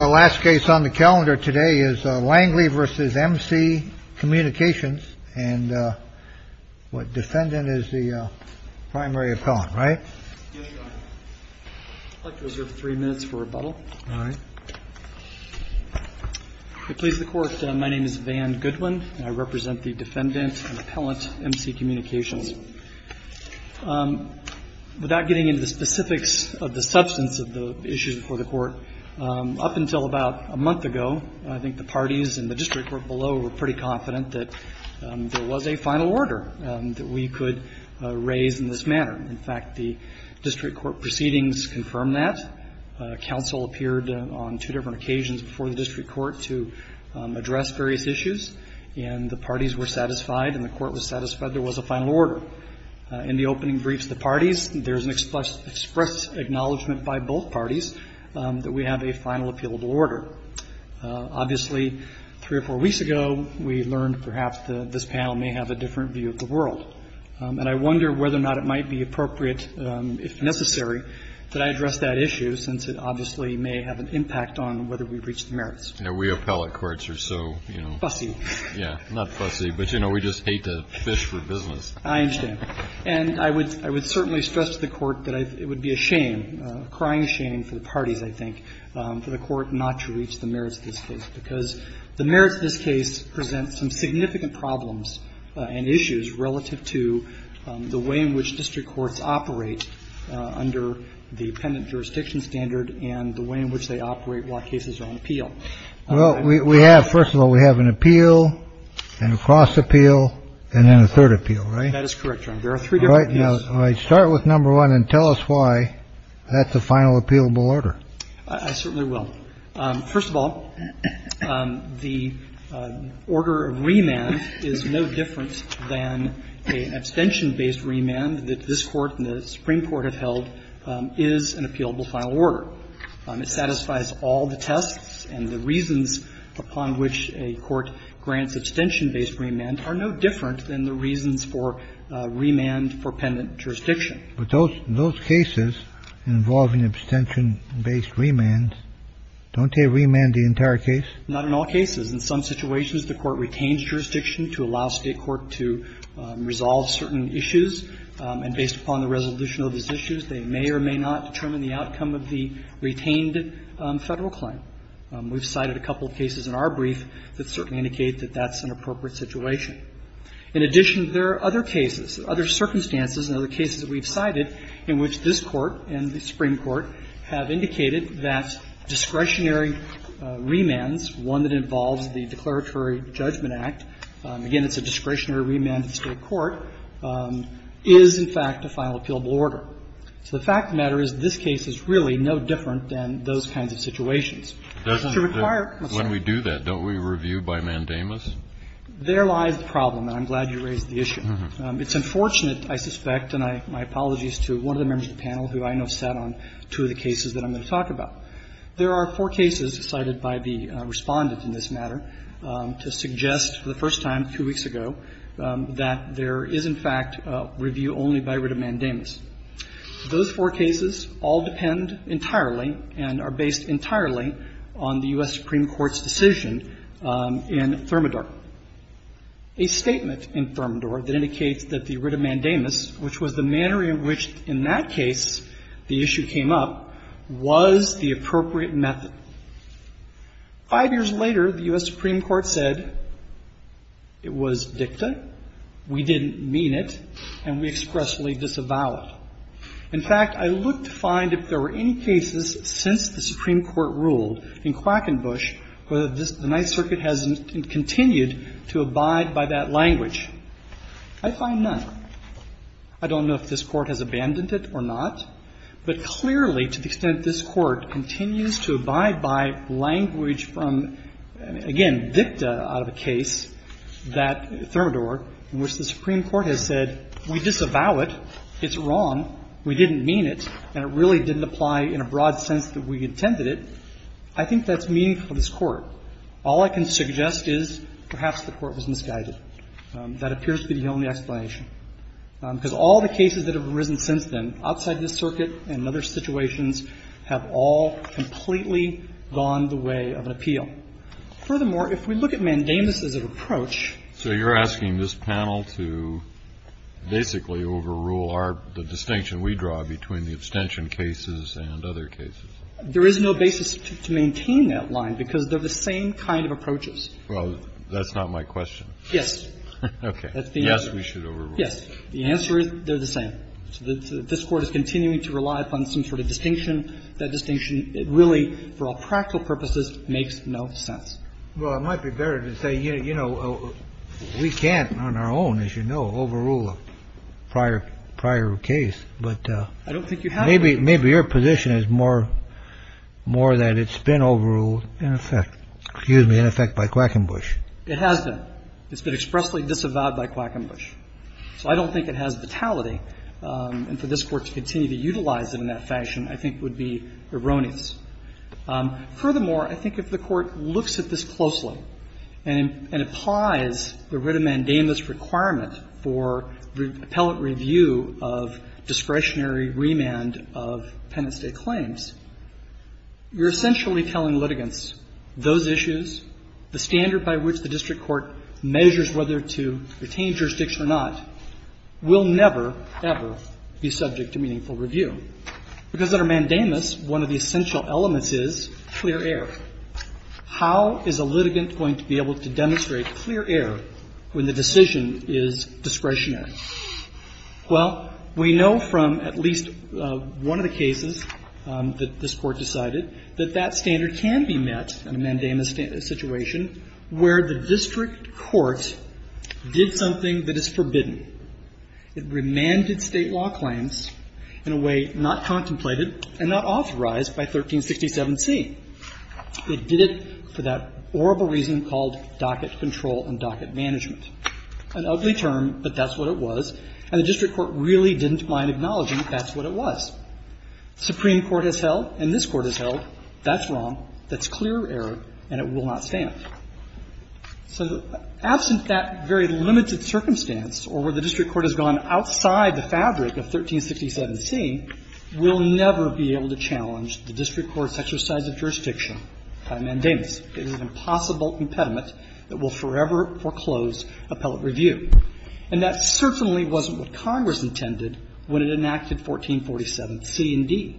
The last case on the calendar today is Langley v. MC Communications, and the defendant is the primary appellant, right? Yes, Your Honor. I'd like to reserve three minutes for rebuttal. All right. To please the Court, my name is Van Goodwin, and I represent the defendant and appellant, MC Communications. Without getting into the specifics of the substance of the issues before the Court, up until about a month ago, I think the parties in the district court below were pretty confident that there was a final order that we could raise in this manner. In fact, the district court proceedings confirmed that. Counsel appeared on two different occasions before the district court to address various issues, and the parties were satisfied and the court was satisfied there was a final order. In the opening briefs of the parties, there's an express acknowledgment by both parties that we have a final appealable order. Obviously, three or four weeks ago, we learned perhaps that this panel may have a different view of the world, and I wonder whether or not it might be appropriate, if necessary, that I address that issue, since it obviously may have an impact on whether we reach the merits. Now, we appellate courts are so, you know. Fussy. Yeah, not fussy, but, you know, we just hate to fish for business. I understand. And I would certainly stress to the Court that it would be a shame, a crying shame for the parties, I think, for the Court not to reach the merits of this case, because the merits of this case present some significant problems and issues relative to the way in which district courts operate under the appendant jurisdiction standard and the way in which they operate while cases are on appeal. Well, we have, first of all, we have an appeal and a cross-appeal and then a third appeal, right? That is correct, Your Honor. There are three different appeals. All right. Start with number one and tell us why that's a final appealable order. I certainly will. First of all, the order of remand is no different than an abstention-based remand that this Court and the Supreme Court have held is an appealable final order. It satisfies all the tests and the reasons upon which a court grants abstention-based remand are no different than the reasons for remand for appendant jurisdiction. But those cases involving abstention-based remand, don't they remand the entire case? Not in all cases. In some situations, the Court retains jurisdiction to allow State court to resolve certain issues, and based upon the resolution of those issues, they may or may not determine the outcome of the retained Federal claim. We've cited a couple of cases in our brief that certainly indicate that that's an appropriate situation. In addition, there are other cases, other circumstances and other cases that we've cited in which this Court and the Supreme Court have indicated that discretionary remands, one that involves the Declaratory Judgment Act, again, it's a discretionary remand in State court, is, in fact, a final appealable order. So the fact of the matter is this case is really no different than those kinds of situations. It's a required question. Kennedy. When we do that, don't we review by mandamus? There lies the problem, and I'm glad you raised the issue. It's unfortunate, I suspect, and my apologies to one of the members of the panel who I know sat on two of the cases that I'm going to talk about. There are four cases cited by the Respondent in this matter to suggest for the first time two weeks ago that there is, in fact, review only by writ of mandamus. Those four cases all depend entirely and are based entirely on the U.S. Supreme Court's decision in Thermidor, a statement in Thermidor that indicates that the writ of mandamus, which was the manner in which, in that case, the issue came up, was the appropriate method. Five years later, the U.S. Supreme Court said it was dicta, we didn't mean it, and we expressly disavowed it. In fact, I looked to find if there were any cases since the Supreme Court ruled in Quackenbush where the Ninth Circuit has continued to abide by that language. I find none. I don't know if this Court has abandoned it or not, but clearly, to the extent this Court has continued to abide by language from, again, dicta out of a case, that Thermidor, in which the Supreme Court has said we disavow it, it's wrong, we didn't mean it, and it really didn't apply in a broad sense that we intended it, I think that's meaningful to this Court. All I can suggest is perhaps the Court was misguided. That appears to be the only explanation, because all the cases that have arisen since then, outside this circuit and other situations, have all completely gone the way of an appeal. Furthermore, if we look at mandamus as an approach. Kennedy, so you're asking this panel to basically overrule our, the distinction we draw between the abstention cases and other cases? There is no basis to maintain that line, because they're the same kind of approaches. Well, that's not my question. Yes. Okay. Yes, we should overrule it. Yes. The answer is they're the same. So this Court is continuing to rely upon some sort of distinction. That distinction really, for all practical purposes, makes no sense. Well, it might be better to say, you know, we can't on our own, as you know, overrule a prior case. But maybe your position is more that it's been overruled in effect. Excuse me, in effect, by Quackenbush. It has been. It's been expressly disavowed by Quackenbush. So I don't think it has vitality. And for this Court to continue to utilize it in that fashion, I think, would be erroneous. Furthermore, I think if the Court looks at this closely and applies the writ of mandamus requirement for appellate review of discretionary remand of penitent-state claims, you're essentially telling litigants those issues, the standard by which the district court measures whether to retain jurisdiction or not will never, ever be subject to meaningful review. Because under mandamus, one of the essential elements is clear air. How is a litigant going to be able to demonstrate clear air when the decision is discretionary? Well, we know from at least one of the cases that this Court decided that that standard can be met in a mandamus situation where the district court did something that is forbidden. It remanded State law claims in a way not contemplated and not authorized by 1367C. It did it for that horrible reason called docket control and docket management. An ugly term, but that's what it was. And the district court really didn't mind acknowledging that's what it was. Supreme Court has held, and this Court has held, that's wrong, that's clear air, and it will not stand. So absent that very limited circumstance or where the district court has gone outside the fabric of 1367C, we'll never be able to challenge the district court's exercise of jurisdiction by mandamus. It is an impossible impediment that will forever foreclose appellate review. And that certainly wasn't what Congress intended when it enacted 1447C and D.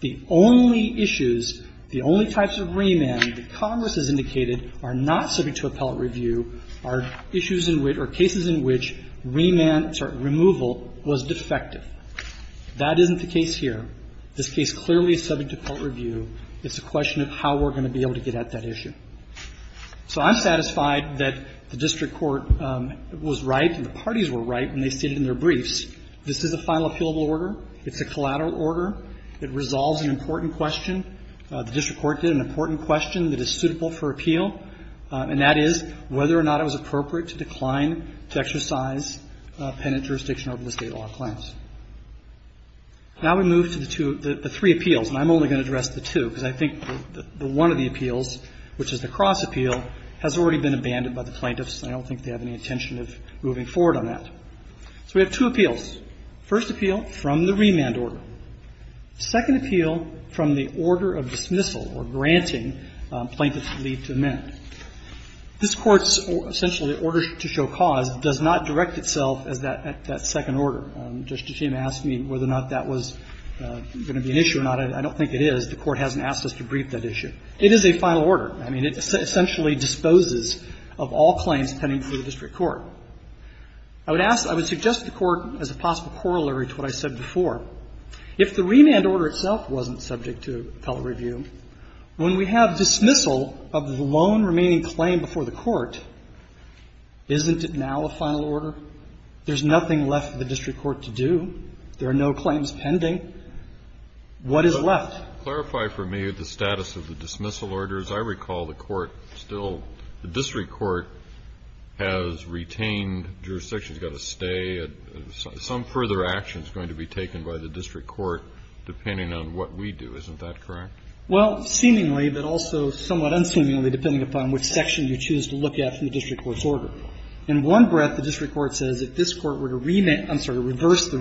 The only issues, the only types of remand that Congress has indicated are not subject to appellate review are issues in which or cases in which remand, sorry, removal was defective. That isn't the case here. This case clearly is subject to appellate review. It's a question of how we're going to be able to get at that issue. So I'm satisfied that the district court was right and the parties were right when they stated in their briefs this is a final appealable order. It's a collateral order. It resolves an important question. The district court did an important question that is suitable for appeal, and that is whether or not it was appropriate to decline to exercise penitent jurisdiction over the State law claims. Now we move to the two, the three appeals, and I'm only going to address the two because I think the one of the appeals, which is the cross appeal, has already been abandoned by the plaintiffs, and I don't think they have any intention of moving forward on that. So we have two appeals. First appeal from the remand order. Second appeal from the order of dismissal or granting plaintiffs to leave to amend. This Court's essentially order to show cause does not direct itself at that second order. Justice Scheme asked me whether or not that was going to be an issue or not. I don't think it is. The Court hasn't asked us to brief that issue. It is a final order. I mean, it essentially disposes of all claims pending for the district court. I would ask, I would suggest to the Court as a possible corollary to what I said before, if the remand order itself wasn't subject to appellate review, when we have dismissal of the lone remaining claim before the Court, isn't it now a final order? There's nothing left for the district court to do. There are no claims pending. What is left? Clarify for me the status of the dismissal order. As I recall, the Court still, the district court has retained jurisdiction. It's got to stay. Some further action is going to be taken by the district court depending on what we do. Isn't that correct? Well, seemingly, but also somewhat unseemly, depending upon which section you choose to look at from the district court's order. In one breath, the district court says if this Court were to remand, I'm sorry, to revisit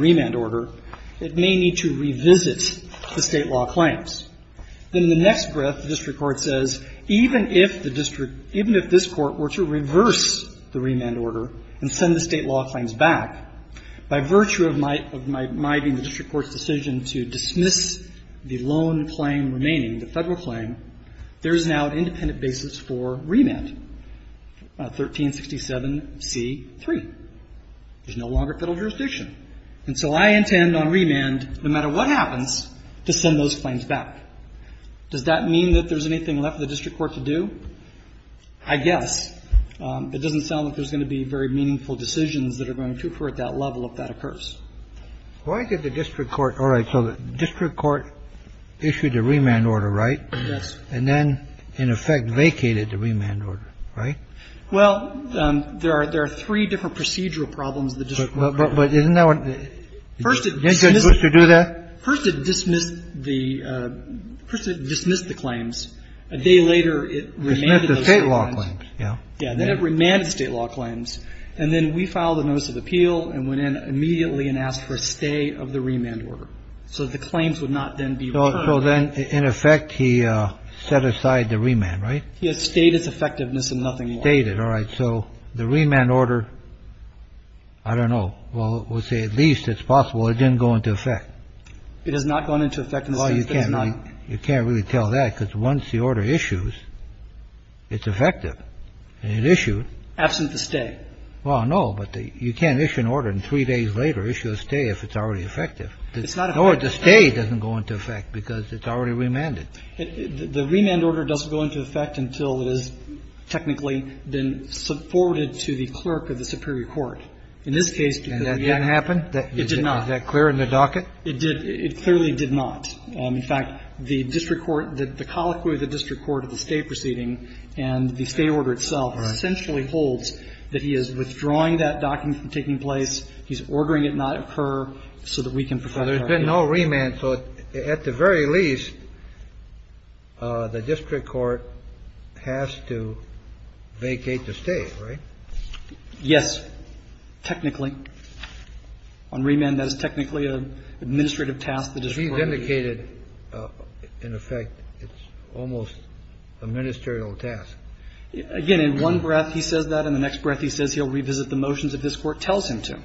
the State law claims. Then in the next breath, the district court says even if the district, even if this Court were to reverse the remand order and send the State law claims back, by virtue of my, of my, my being the district court's decision to dismiss the lone claim remaining, the Federal claim, there is now an independent basis for remand. 1367c3. There's no longer Federal jurisdiction. And so I intend on remand, no matter what happens, to send those claims back. Does that mean that there's anything left for the district court to do? I guess. It doesn't sound like there's going to be very meaningful decisions that are going to occur at that level if that occurs. Why did the district court? All right. So the district court issued a remand order, right? Yes. And then, in effect, vacated the remand order, right? Well, there are three different procedural problems the district court has. First, it dismissed the, first it dismissed the claims. A day later, it remanded the State law claims. Yeah. Then it remanded the State law claims. And then we filed a notice of appeal and went in immediately and asked for a stay of the remand order. So the claims would not then be returned. So then, in effect, he set aside the remand, right? Stayed it. All right. So the remand order, I don't know. Well, we'll say at least it's possible it didn't go into effect. It has not gone into effect. Well, you can't really tell that because once the order issues, it's effective. And it issued. Absent the stay. Well, no. But you can't issue an order and three days later issue a stay if it's already effective. It's not effective. No, the stay doesn't go into effect because it's already remanded. The remand order doesn't go into effect until it has technically been forwarded to the clerk of the superior court. In this case, because we have to. And that didn't happen? It did not. Is that clear in the docket? It did. It clearly did not. In fact, the district court, the colloquy of the district court at the State proceeding and the State order itself essentially holds that he is withdrawing that document from taking place. He's ordering it not occur so that we can protect our case. Now, there's been no remand. So at the very least, the district court has to vacate the stay, right? Yes. Technically. On remand, that is technically an administrative task. He's indicated, in effect, it's almost a ministerial task. Again, in one breath he says that and the next breath he says he'll revisit the motions that this Court tells him to,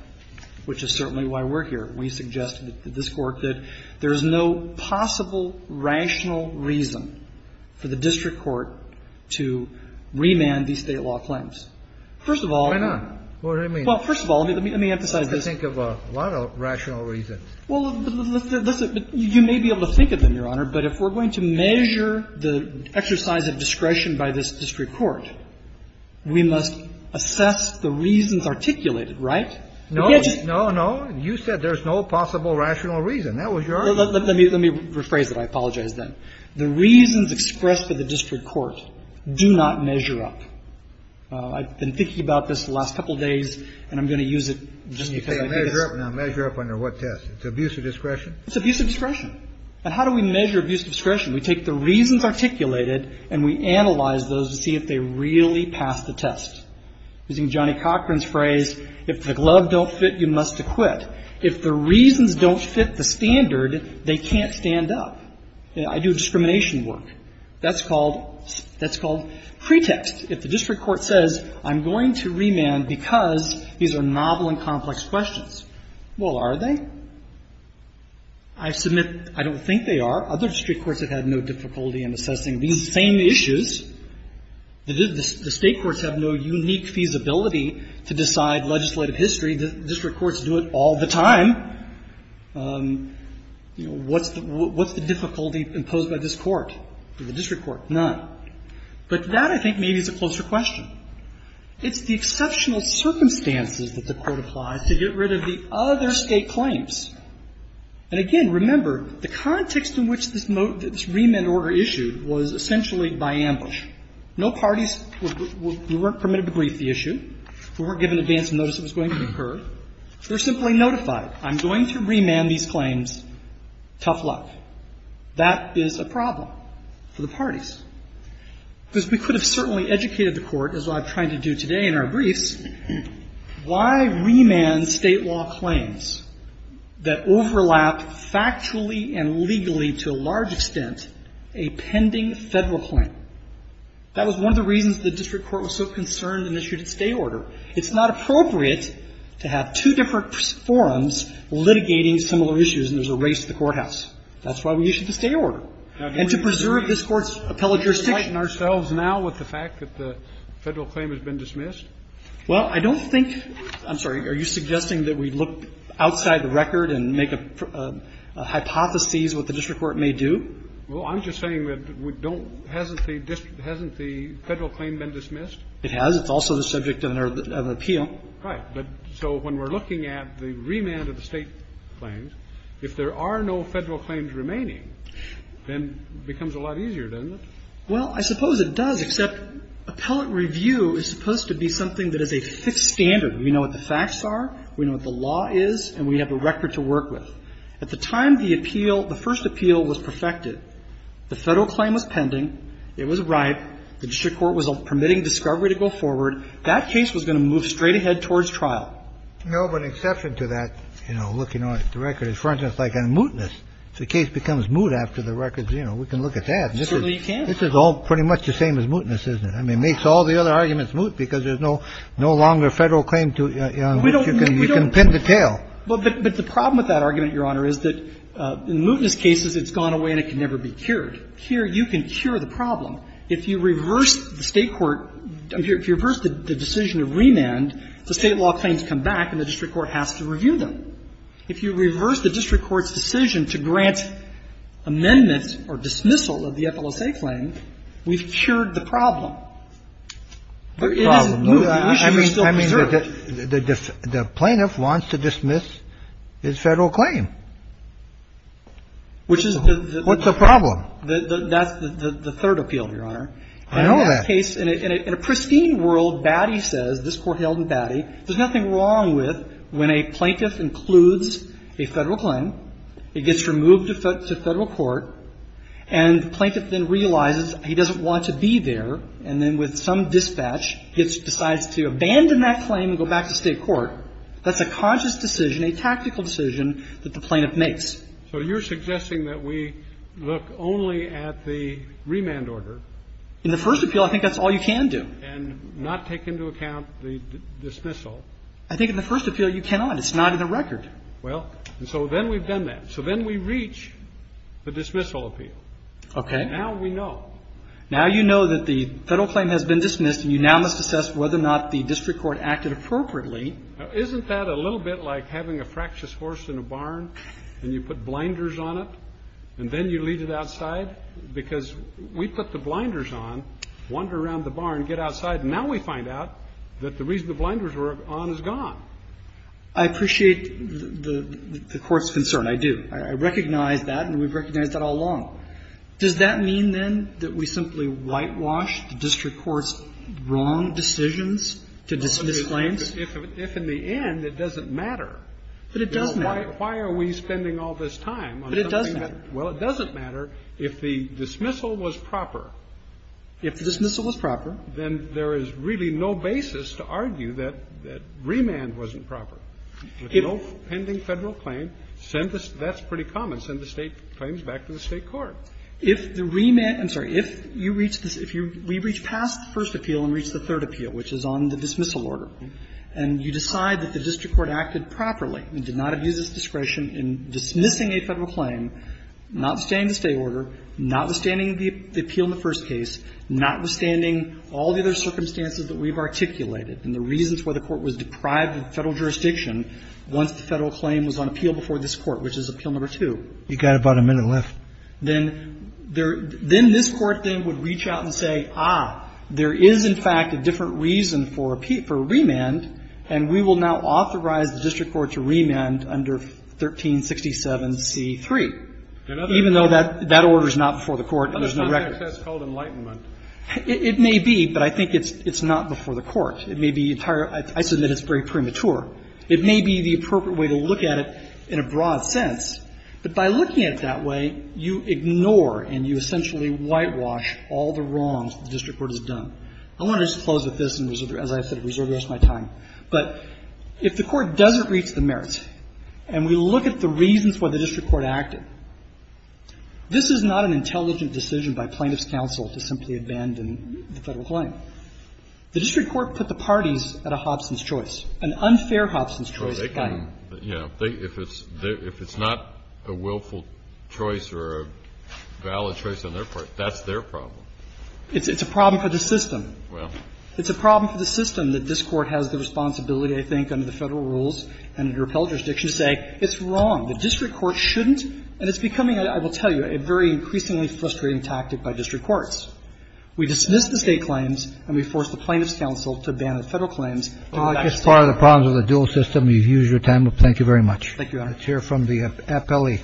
which is certainly why we're here. We suggest to this Court that there is no possible rational reason for the district court to remand these State law claims. First of all. Why not? What do you mean? Well, first of all, let me emphasize this. I think of a lot of rational reasons. Well, you may be able to think of them, Your Honor, but if we're going to measure the exercise of discretion by this district court, we must assess the reasons articulated, right? No. No, no. You said there's no possible rational reason. That was your argument. Let me rephrase it. I apologize then. The reasons expressed by the district court do not measure up. I've been thinking about this the last couple of days, and I'm going to use it just because I think it's... You say measure up. Now, measure up under what test? It's abuse of discretion? It's abuse of discretion. And how do we measure abuse of discretion? We take the reasons articulated and we analyze those to see if they really pass the test. Using Johnny Cochran's phrase, if the glove don't fit, you must acquit. If the reasons don't fit the standard, they can't stand up. I do discrimination work. That's called pretext. If the district court says I'm going to remand because these are novel and complex questions, well, are they? I submit I don't think they are. Other district courts have had no difficulty in assessing these same issues. The state courts have no unique feasibility to decide legislative history. The district courts do it all the time. You know, what's the difficulty imposed by this court, the district court? None. But that, I think, maybe is a closer question. It's the exceptional circumstances that the Court applies to get rid of the other State claims. And, again, remember, the context in which this remand order issued was essentially made by ambush. No parties were permitted to brief the issue. We weren't given advance notice it was going to occur. We're simply notified. I'm going to remand these claims. Tough luck. That is a problem for the parties. Because we could have certainly educated the Court, as I'm trying to do today in our briefs, why remand State law claims that overlap factually and legally to a large extent a pending Federal claim. That was one of the reasons the district court was so concerned and issued its stay order. It's not appropriate to have two different forums litigating similar issues and there's a race to the courthouse. That's why we issued the stay order. And to preserve this Court's appellate jurisdiction. Kennedy. Are we conflicting ourselves now with the fact that the Federal claim has been dismissed? Well, I don't think – I'm sorry. Are you suggesting that we look outside the record and make a hypothesis that sees what the district court may do? Well, I'm just saying that we don't – hasn't the district – hasn't the Federal claim been dismissed? It has. It's also the subject of an appeal. Right. But so when we're looking at the remand of the State claims, if there are no Federal claims remaining, then it becomes a lot easier, doesn't it? Well, I suppose it does, except appellate review is supposed to be something that is a fixed standard. We know what the facts are. We know what the law is. And we have a record to work with. At the time the appeal – the first appeal was perfected, the Federal claim was pending. It was ripe. The district court was permitting discovery to go forward. That case was going to move straight ahead towards trial. No, but an exception to that, you know, looking at the record is, for instance, like a mootness. If the case becomes moot after the record, you know, we can look at that. Certainly you can. This is all pretty much the same as mootness, isn't it? I mean, it makes all the other arguments moot because there's no longer Federal claim to – We don't – we don't – You can pin the tail. Well, but the problem with that argument, Your Honor, is that in mootness cases it's gone away and it can never be cured. Here you can cure the problem. If you reverse the State court – if you reverse the decision of remand, the State law claims come back and the district court has to review them. If you reverse the district court's decision to grant amendments or dismissal of the FLSA claim, we've cured the problem. It isn't moot. The issue is still preserved. The plaintiff wants to dismiss his Federal claim. Which is the – What's the problem? That's the third appeal, Your Honor. I know that. In that case, in a pristine world, Batty says, this Court held in Batty, there's nothing wrong with when a plaintiff includes a Federal claim, it gets removed to Federal court, and the plaintiff then realizes he doesn't want to be there, and then with some dispatch decides to abandon that claim and go back to State court. That's a conscious decision, a tactical decision that the plaintiff makes. So you're suggesting that we look only at the remand order. In the first appeal, I think that's all you can do. And not take into account the dismissal. I think in the first appeal you cannot. It's not in the record. Well, and so then we've done that. So then we reach the dismissal appeal. Okay. Now we know. Now you know that the Federal claim has been dismissed, and you now must assess whether or not the district court acted appropriately. Isn't that a little bit like having a fractious horse in a barn, and you put blinders on it, and then you leave it outside? Because we put the blinders on, wander around the barn, get outside, and now we find out that the reason the blinders were on is gone. I appreciate the Court's concern. I do. I recognize that, and we've recognized that all along. Does that mean, then, that we simply whitewash the district court's wrong decisions to dismiss claims? No, but if in the end it doesn't matter. But it does matter. Why are we spending all this time on something that doesn't matter? But it does matter. Well, it doesn't matter if the dismissal was proper. If the dismissal was proper. Then there is really no basis to argue that remand wasn't proper. With no pending Federal claim, that's pretty common. And if it was proper, then the district court would have to go back to the State court and send the State claims back to the State court. If the remand – I'm sorry. If you reach this – if you reach past the first appeal and reach the third appeal, which is on the dismissal order, and you decide that the district court acted properly and did not abuse its discretion in dismissing a Federal claim, notwithstanding the State order, notwithstanding the appeal in the first case, notwithstanding all the other circumstances that we've articulated and the reasons why the Court was deprived of Federal jurisdiction once the Federal claim was on appeal before this Court, which is appeal number two. You've got about a minute left. Then there – then this Court then would reach out and say, ah, there is, in fact, a different reason for remand, and we will now authorize the district court to remand under 1367c3, even though that order is not before the Court and there's no record. That's called enlightenment. It may be, but I think it's not before the Court. It may be entirely – I submit it's very premature. It may be the appropriate way to look at it in a broad sense, but by looking at it that way, you ignore and you essentially whitewash all the wrongs the district court has done. I want to just close with this and, as I said, reserve the rest of my time. But if the Court doesn't reach the merits and we look at the reasons why the district court acted, this is not an intelligent decision by plaintiff's counsel to simply abandon the Federal claim. The district court put the parties at a Hobson's choice, an unfair Hobson's choice. Kennedy. If it's not a willful choice or a valid choice on their part, that's their problem. It's a problem for the system. It's a problem for the system that this Court has the responsibility, I think, under the Federal rules and under appellate jurisdiction to say it's wrong. The district court shouldn't. And it's becoming, I will tell you, a very increasingly frustrating tactic by district courts. We dismiss the State claims and we force the plaintiff's counsel to abandon Federal claims. Kennedy. As far as the problems of the dual system, you've used your time. Thank you very much. Thank you, Your Honor. Let's hear from the appellee.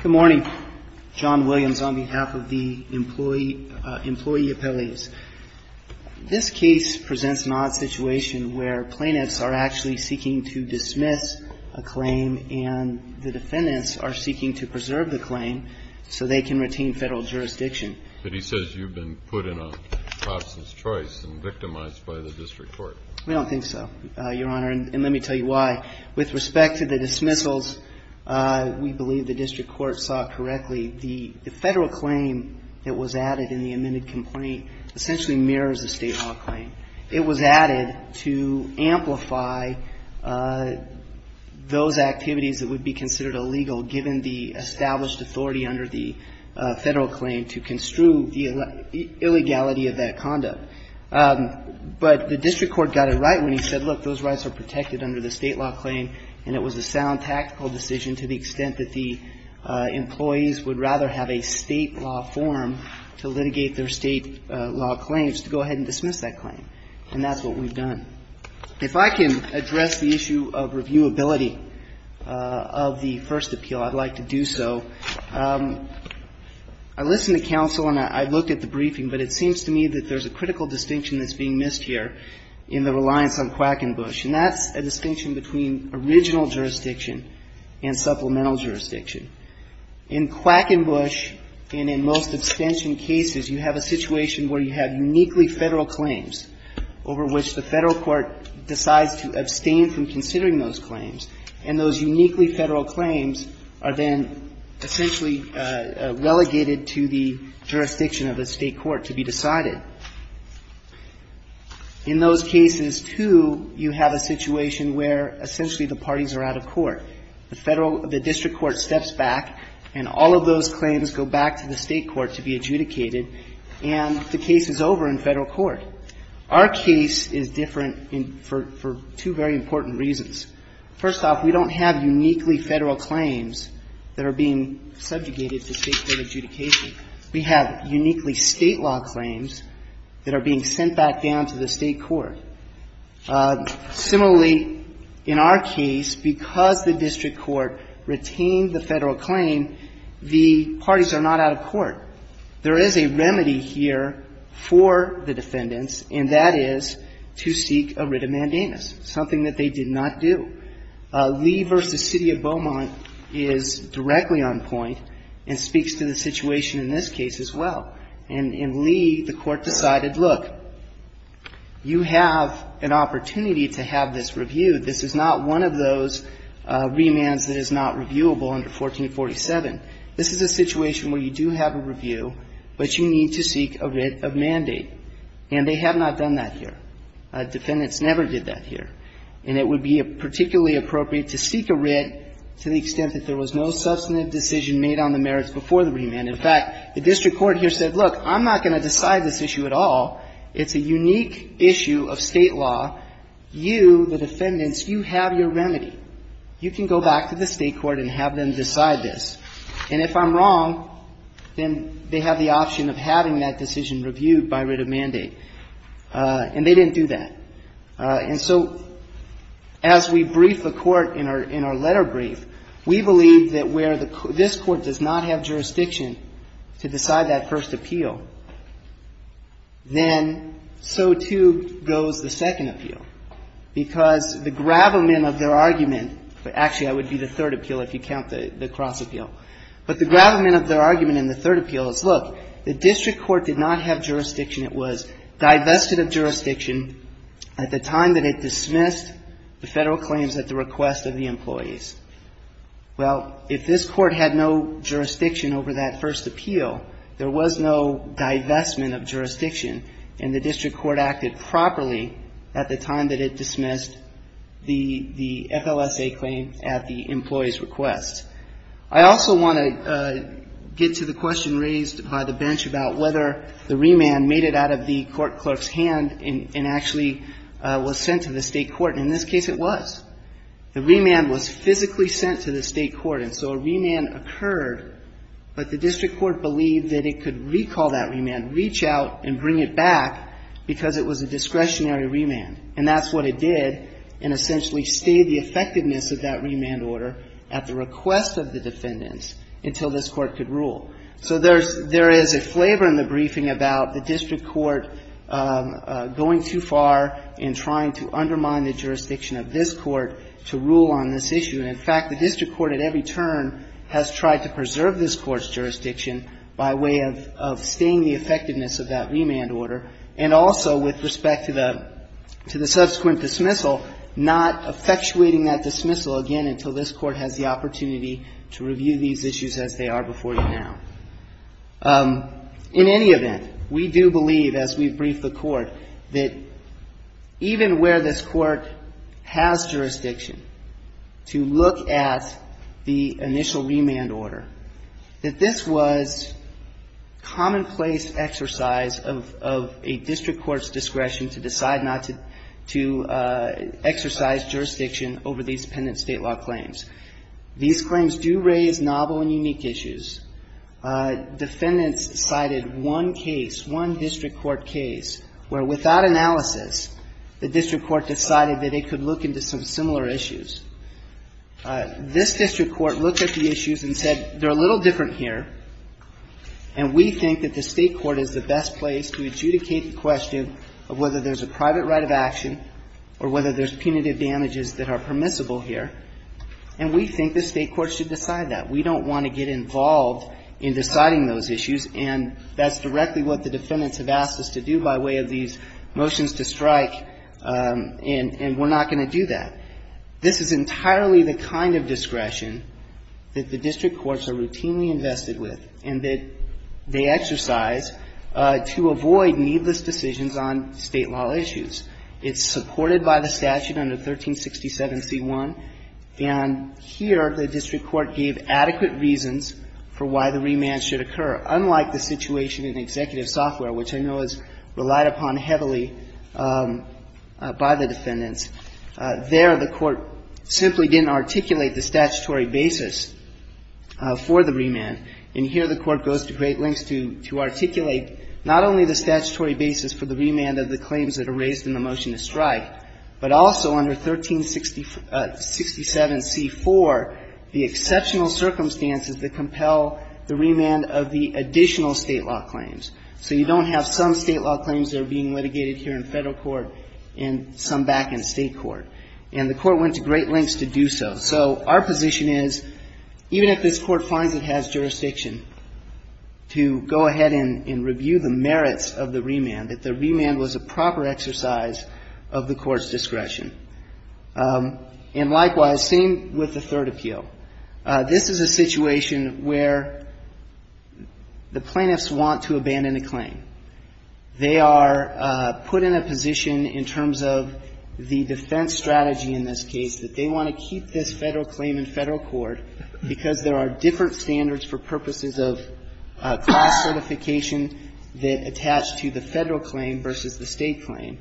Good morning. John Williams on behalf of the employee appellees. This case presents an odd situation where plaintiffs are actually seeking to dismiss a claim and the defendants are seeking to preserve the claim so they can retain Federal jurisdiction. But he says you've been put in a Hobson's choice and victimized by the district court. We don't think so, Your Honor. And let me tell you why. With respect to the dismissals, we believe the district court saw correctly the Federal claim that was added in the amended complaint essentially mirrors the State law claim. It was added to amplify those activities that would be considered illegal given the established authority under the Federal claim to construe the illegality of that conduct. But the district court got it right when he said, look, those rights are protected under the State law claim. And it was a sound tactical decision to the extent that the employees would rather have a State law form to litigate their State law claims to go ahead and dismiss that claim. And that's what we've done. If I can address the issue of reviewability of the first appeal, I'd like to do so. I listened to counsel and I looked at the briefing, but it seems to me that there's a critical distinction that's being missed here in the reliance on Quackenbush. And that's a distinction between original jurisdiction and supplemental jurisdiction. In Quackenbush and in most abstention cases, you have a situation where you have uniquely Federal claims over which the Federal court decides to abstain from considering those claims. And those uniquely Federal claims are then essentially relegated to the jurisdiction of the State court to be decided. In those cases, too, you have a situation where essentially the parties are out of court. The Federal the district court steps back and all of those claims go back to the State court to be adjudicated. And the case is over in Federal court. Our case is different for two very important reasons. First off, we don't have uniquely Federal claims that are being subjugated to State court adjudication. We have uniquely State law claims that are being sent back down to the State court. Similarly, in our case, because the district court retained the Federal claim, the parties are not out of court. There is a remedy here for the defendants, and that is to seek a writ of mandamus, something that they did not do. Lee v. City of Beaumont is directly on point and speaks to the situation in this case as well. In Lee, the Court decided, look, you have an opportunity to have this reviewed. This is not one of those remands that is not reviewable under 1447. This is a situation where you do have a review, but you need to seek a writ of mandate. And they have not done that here. Defendants never did that here. And it would be particularly appropriate to seek a writ to the extent that there was no substantive decision made on the merits before the remand. In fact, the district court here said, look, I'm not going to decide this issue at all. It's a unique issue of State law. You, the defendants, you have your remedy. You can go back to the State court and have them decide this. And if I'm wrong, then they have the option of having that decision reviewed by writ of mandate. And they didn't do that. And so as we brief the Court in our letter brief, we believe that where this Court does not have jurisdiction to decide that first appeal, then so, too, goes the second appeal, because the gravamen of their argument, actually, that would be the third appeal. But the gravamen of their argument in the third appeal is, look, the district court did not have jurisdiction. It was divested of jurisdiction at the time that it dismissed the Federal claims at the request of the employees. Well, if this Court had no jurisdiction over that first appeal, there was no divestment of jurisdiction, and the district court acted properly at the time that it dismissed the FLSA claim at the employee's request. I also want to get to the question raised by the bench about whether the remand made it out of the court clerk's hand and actually was sent to the State court. And in this case, it was. The remand was physically sent to the State court, and so a remand occurred, but the district court believed that it could recall that remand, reach out and bring it back, because it was a discretionary remand. And that's what it did, and essentially stayed the effectiveness of that remand order at the request of the defendants until this Court could rule. So there is a flavor in the briefing about the district court going too far in trying to undermine the jurisdiction of this Court to rule on this issue. And, in fact, the district court at every turn has tried to preserve this Court's jurisdiction by way of staying the effectiveness of that remand order, and also with respect to the subsequent dismissal, not effectuating that dismissal again until this Court has the opportunity to review these issues as they are before you now. In any event, we do believe, as we brief the Court, that even where this Court has jurisdiction to look at the initial remand order, that this was commonplace exercise of a district court's discretion to decide not to exercise jurisdiction over these pendent State law claims. These claims do raise novel and unique issues. Defendants cited one case, one district court case, where without analysis, the district court decided that it could look into some similar issues. This district court looked at the issues and said, they're a little different here, and we think that the State court is the best place to adjudicate the question of whether there's a private right of action or whether there's punitive damages that are permissible here, and we think the State court should decide that. We don't want to get involved in deciding those issues, and that's directly what the defendants have asked us to do by way of these motions to strike, and we're not going to do that. This is entirely the kind of discretion that the district courts are routinely invested with and that they exercise to avoid needless decisions on State law issues. It's supported by the statute under 1367c1, and here the district court gave adequate reasons for why the remand should occur, unlike the situation in executive software, which I know is relied upon heavily by the defendants. There, the court simply didn't articulate the statutory basis for the remand, and here the court goes to great lengths to articulate not only the statutory basis for the remand of the claims that are raised in the motion to strike, but also under 1367c4, the exceptional circumstances that compel the remand of the additional State law claims. So you don't have some State law claims that are being litigated here in Federal court and some back in State court, and the court went to great lengths to do so. So our position is, even if this court finds it has jurisdiction to go ahead and review the merits of the remand, that the remand was a proper exercise of the court's discretion. And likewise, same with the third appeal. This is a situation where the plaintiffs want to abandon a claim. They are put in a position in terms of the defense strategy in this case, that they want to keep this Federal claim in Federal court because there are different standards for purposes of class certification that attach to the Federal claim versus the State claim.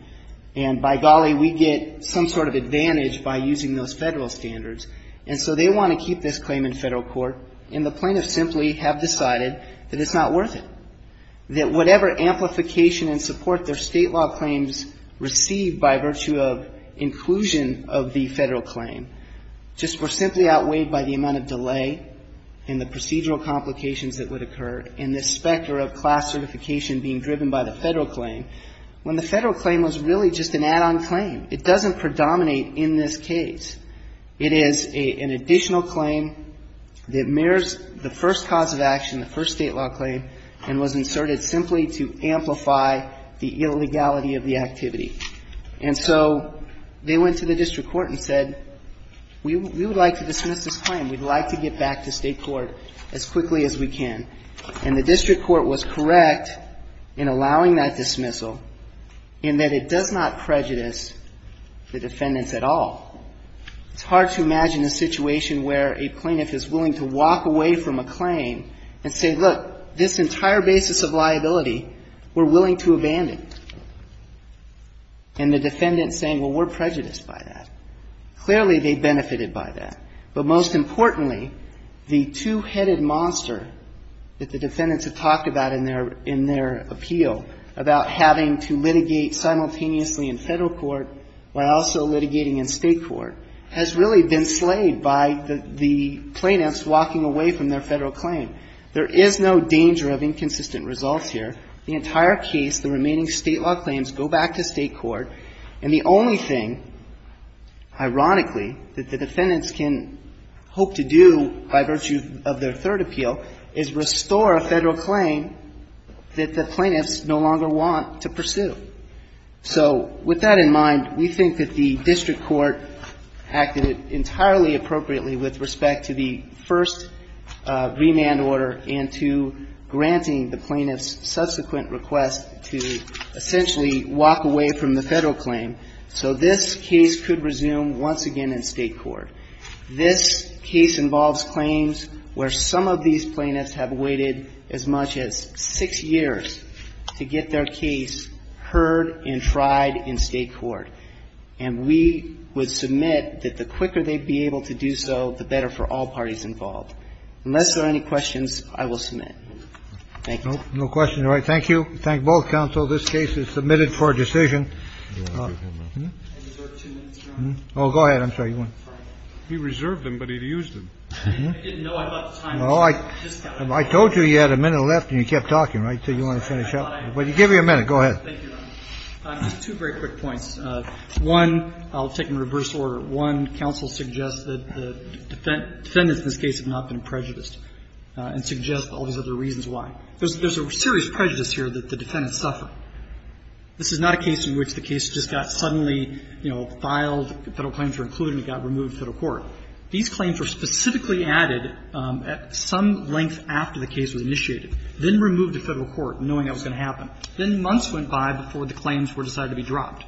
And by golly, we get some sort of advantage by using those Federal standards. And so they want to keep this claim in Federal court, and the plaintiffs simply have decided that it's not worth it, that whatever amplification and support their State law claims received by virtue of inclusion of the Federal claim just were simply outweighed by the amount of delay and the procedural complications that would occur in this specter of class certification being driven by the Federal claim, when the Federal claim was really just an add-on claim. It doesn't predominate in this case. It is an additional claim that mirrors the first cause of action, the first State law claim, and was inserted simply to amplify the illegality of the activity. And so they went to the district court and said, we would like to dismiss this claim. We'd like to get back to State court as quickly as we can. And the district court was correct in allowing that dismissal in that it does not prejudice the defendants at all. It's hard to imagine a situation where a plaintiff is willing to walk away from a claim and say, look, this entire basis of liability we're willing to abandon. And the defendant is saying, well, we're prejudiced by that. Clearly, they benefited by that. But most importantly, the two-headed monster that the defendants have talked about in their appeal about having to litigate simultaneously in Federal court while also in State court has really been slayed by the plaintiffs walking away from their Federal claim. There is no danger of inconsistent results here. The entire case, the remaining State law claims go back to State court. And the only thing, ironically, that the defendants can hope to do by virtue of their third appeal is restore a Federal claim that the plaintiffs no longer want to pursue. So with that in mind, we think that the district court acted entirely appropriately with respect to the first remand order and to granting the plaintiffs subsequent request to essentially walk away from the Federal claim. So this case could resume once again in State court. This case involves claims where some of these plaintiffs have waited as much as six years to get their case heard and tried in State court. And we would submit that the quicker they'd be able to do so, the better for all parties involved. Unless there are any questions, I will submit. Thank you, Justice. Kennedy. No questions. All right. Thank you. Thank both counsel. This case is submitted for a decision. Oh, go ahead. I'm sorry. He reserved them, but he had used them. I didn't know. Well, I told you you had a minute left and you kept talking, right, until you wanted to finish up. Well, give me a minute. Go ahead. Thank you, Your Honor. Two very quick points. One, I'll take them in reverse order. One, counsel suggests that the defendants in this case have not been prejudiced and suggest all these other reasons why. There's a serious prejudice here that the defendants suffer. This is not a case in which the case just got suddenly, you know, filed, the Federal claims were included and it got removed from the court. These claims were specifically added at some length after the case was initiated, then removed to Federal court, knowing that was going to happen. Then months went by before the claims were decided to be dropped.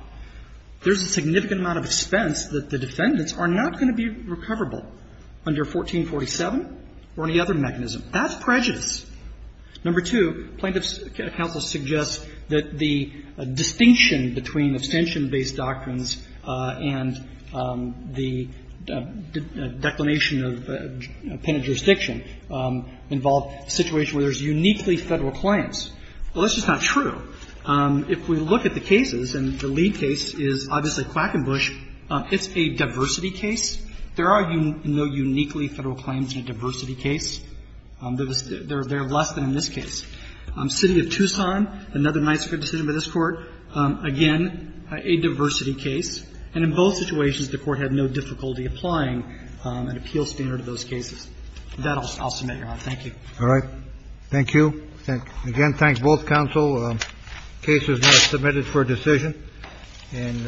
There's a significant amount of expense that the defendants are not going to be recoverable under 1447 or any other mechanism. That's prejudice. Number two, plaintiff's counsel suggests that the distinction between abstention-based doctrines and the declination of a penitent jurisdiction involve a situation where there's uniquely Federal claims. Well, that's just not true. If we look at the cases, and the lead case is obviously Quackenbush, it's a diversity case. There are no uniquely Federal claims in a diversity case. There are less than in this case. City of Tucson, another nice good decision by this Court, again, a diversity case. And in both situations, the Court had no difficulty applying an appeal standard to those cases. With that, I'll submit, Your Honor. Thank you. All right. Thank you. Again, thank both counsel. The case is now submitted for decision. And I thank you.